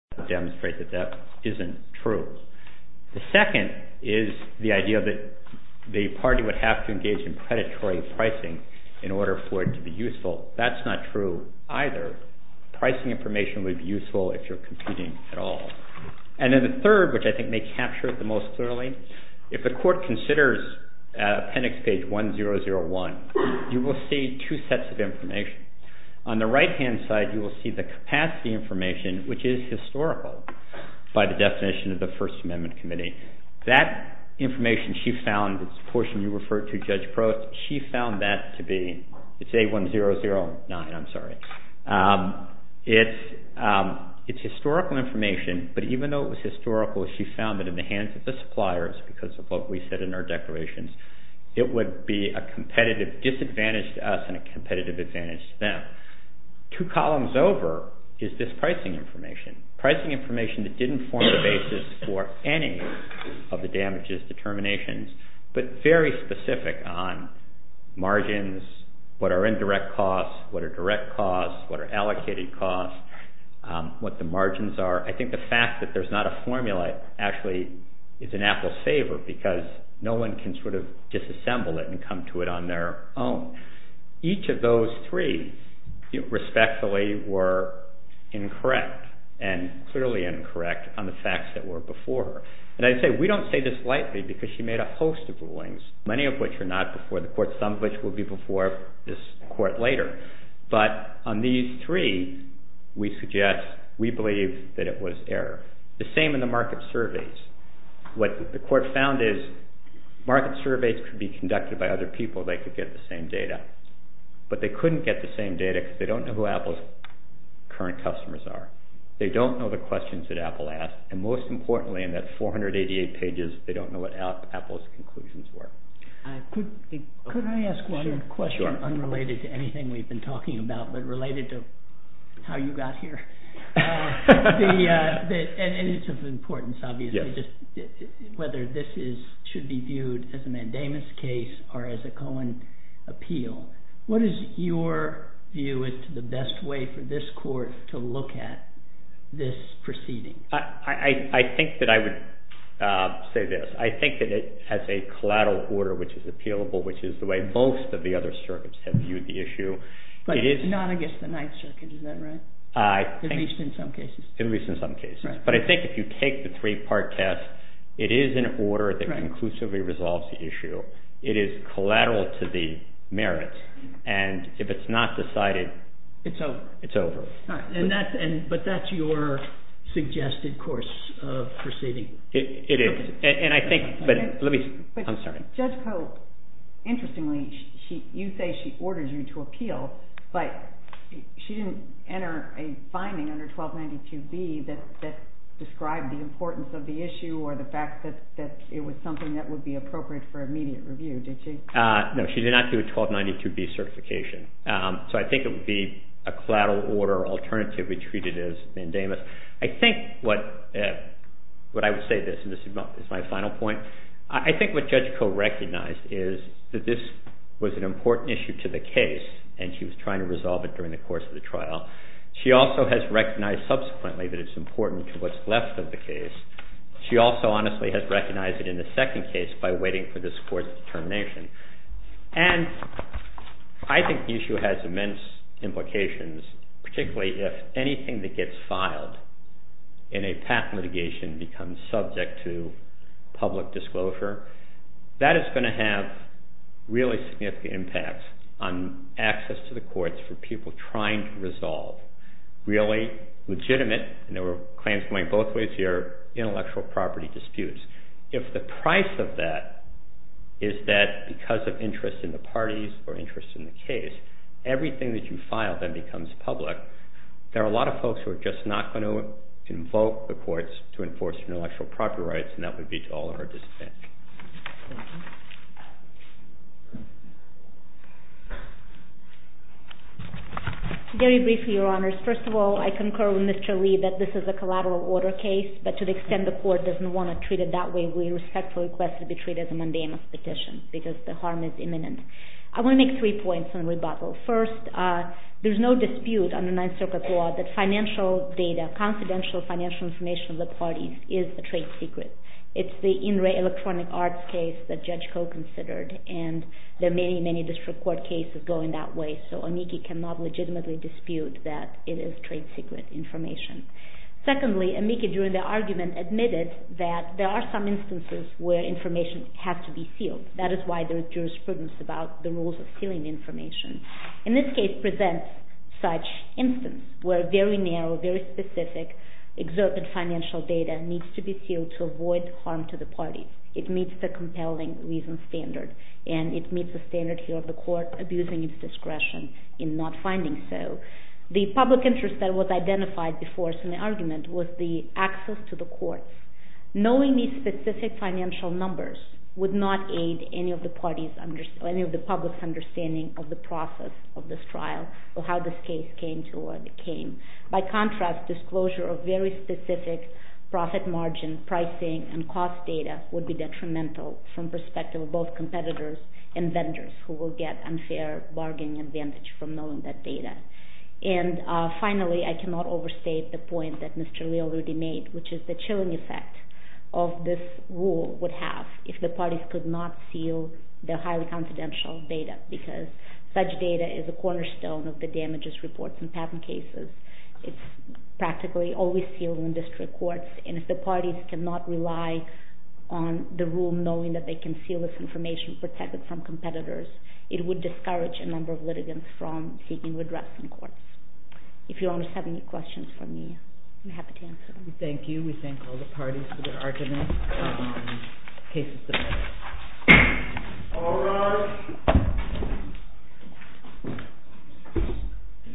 The second is the idea that the party would have to engage in predatory pricing in order for it to be useful. That's not true either. Pricing information would be useful if you're computing at all. And then the third, which I think may capture it the most clearly, if a court considers appendix page 1001, you will see two sets of information. On the right-hand side, you will see the capacity information, which is historical by the definition of the First Amendment Committee. That information she found, this portion you referred to, Judge Prost, she found that to be, it's A1009, I'm sorry, it's historical information, but even though it was historical, she found that in the hands of the suppliers, because of what we said in our declarations, it would be a competitive disadvantage to us and a competitive advantage to them. Two columns over is this pricing information. Pricing information that didn't form the basis for any of the damages determinations, but very specific on margins, what are indirect costs, what are direct costs, what are allocated costs, what the margins are. I think the fact that there's not a formula actually is an apple saver, because no one can sort of disassemble it and come to it on their own. Each of those three respectfully were incorrect and clearly incorrect on the facts that were before her. And I say, we don't say this lightly, because she made a host of rulings, many of which were not before the court, some of which will be before this court later. But on these three, we suggest, we believe that it was error. The same in the market surveys. What the court found is market surveys could be conducted by other people, they could get the same data. But they couldn't get the same data, because they don't know who Apple's current customers are. They don't know the questions that Apple asked. And most importantly, in that 488 pages, they don't know what Apple's conclusions were. Could I ask one question unrelated to anything we've been talking about, but related to how you got here? And it's of importance, obviously, whether this should be viewed as a mandamus case or as a Cohen appeal. What is your view as to the best way for this court to look at this proceeding? I think that I would say this. I think that it has a collateral order, which is appealable, which is the way most of the other circuits have viewed the issue. But not against the Ninth Circuit, is that right? At least in some cases. At least in some cases. But I think if you take the three-part test, it is an order that conclusively resolves the issue. It is collateral to the merits. And if it's not decided, it's over. But that's your suggested course of proceeding? It is. And I think, but let me, I'm sorry. Judge Cope, interestingly, you say she ordered you to appeal, but she didn't enter a finding under 1292B that described the importance of the issue or the fact that it was something that would be appropriate for immediate review, did she? No, she did not do a 1292B certification. So I think it would be a collateral order alternatively treated as mandamus. I think what I would say this, and this is my final point, I think what Judge Cope recognized is that this was an important issue to the case, and she was trying to resolve it during the course of the trial. She also has recognized subsequently that it's important to what's left of the case. She also, honestly, has recognized it in the second case by waiting for this court's determination. And I think the issue has immense implications, particularly if anything that gets filed in a patent litigation becomes subject to public disclosure. That is going to have really significant impacts on access to the courts for people trying to resolve really legitimate, and there were claims going both ways here, intellectual property disputes. If the price of that is that because of interest in the parties or interest in the case, everything that you file then becomes public, there are a lot of folks who are just not going to invoke the courts to enforce intellectual property rights, and that would be to all of our disdain. Very briefly, Your Honors. First of all, I concur with Mr. Lee that this is a collateral order case, but to the extent the court doesn't want to treat it that way, we respectfully request it be treated as a mandamus petition because the harm is imminent. I want to make three points on rebuttal. First, there's no dispute under Ninth Circuit law that financial data, confidential financial information of the parties is a trade secret. It's the In Re Electronic Arts case that Judge Koh considered, and there are many, many district court cases going that way, so amici cannot legitimately dispute that it is trade secret information. Secondly, amici during the argument admitted that there are some instances where information has to be sealed. That is why there is jurisprudence about the rules of sealing information. In this case presents such instance where very narrow, very specific, exerted financial data needs to be sealed to avoid harm to the parties. It meets the compelling reason standard, and it meets the standard here of the court abusing its discretion in not finding so. The public interest that was identified before the argument was the access to the courts. Knowing these specific financial numbers would not aid any of the parties, any of the public's understanding of the process of this trial or how this case came to what it came. By contrast, disclosure of very specific profit margin, pricing, and cost data would be detrimental from perspective of both competitors and vendors who will get unfair bargaining advantage from knowing that data. And finally, I cannot overstate the point that Mr. Leal already made, which is the chilling effect of this rule would have if the parties could not seal the highly confidential data, because such data is a cornerstone of the damages reports in patent cases. It's practically always sealed in district courts, and if the parties cannot rely on the rule knowing that they can seal this information protected from competitors, it would discourage a number of litigants from seeking redress in court. If you have any questions for me, I'm happy to answer them. Thank you. We thank all the parties for their arguments.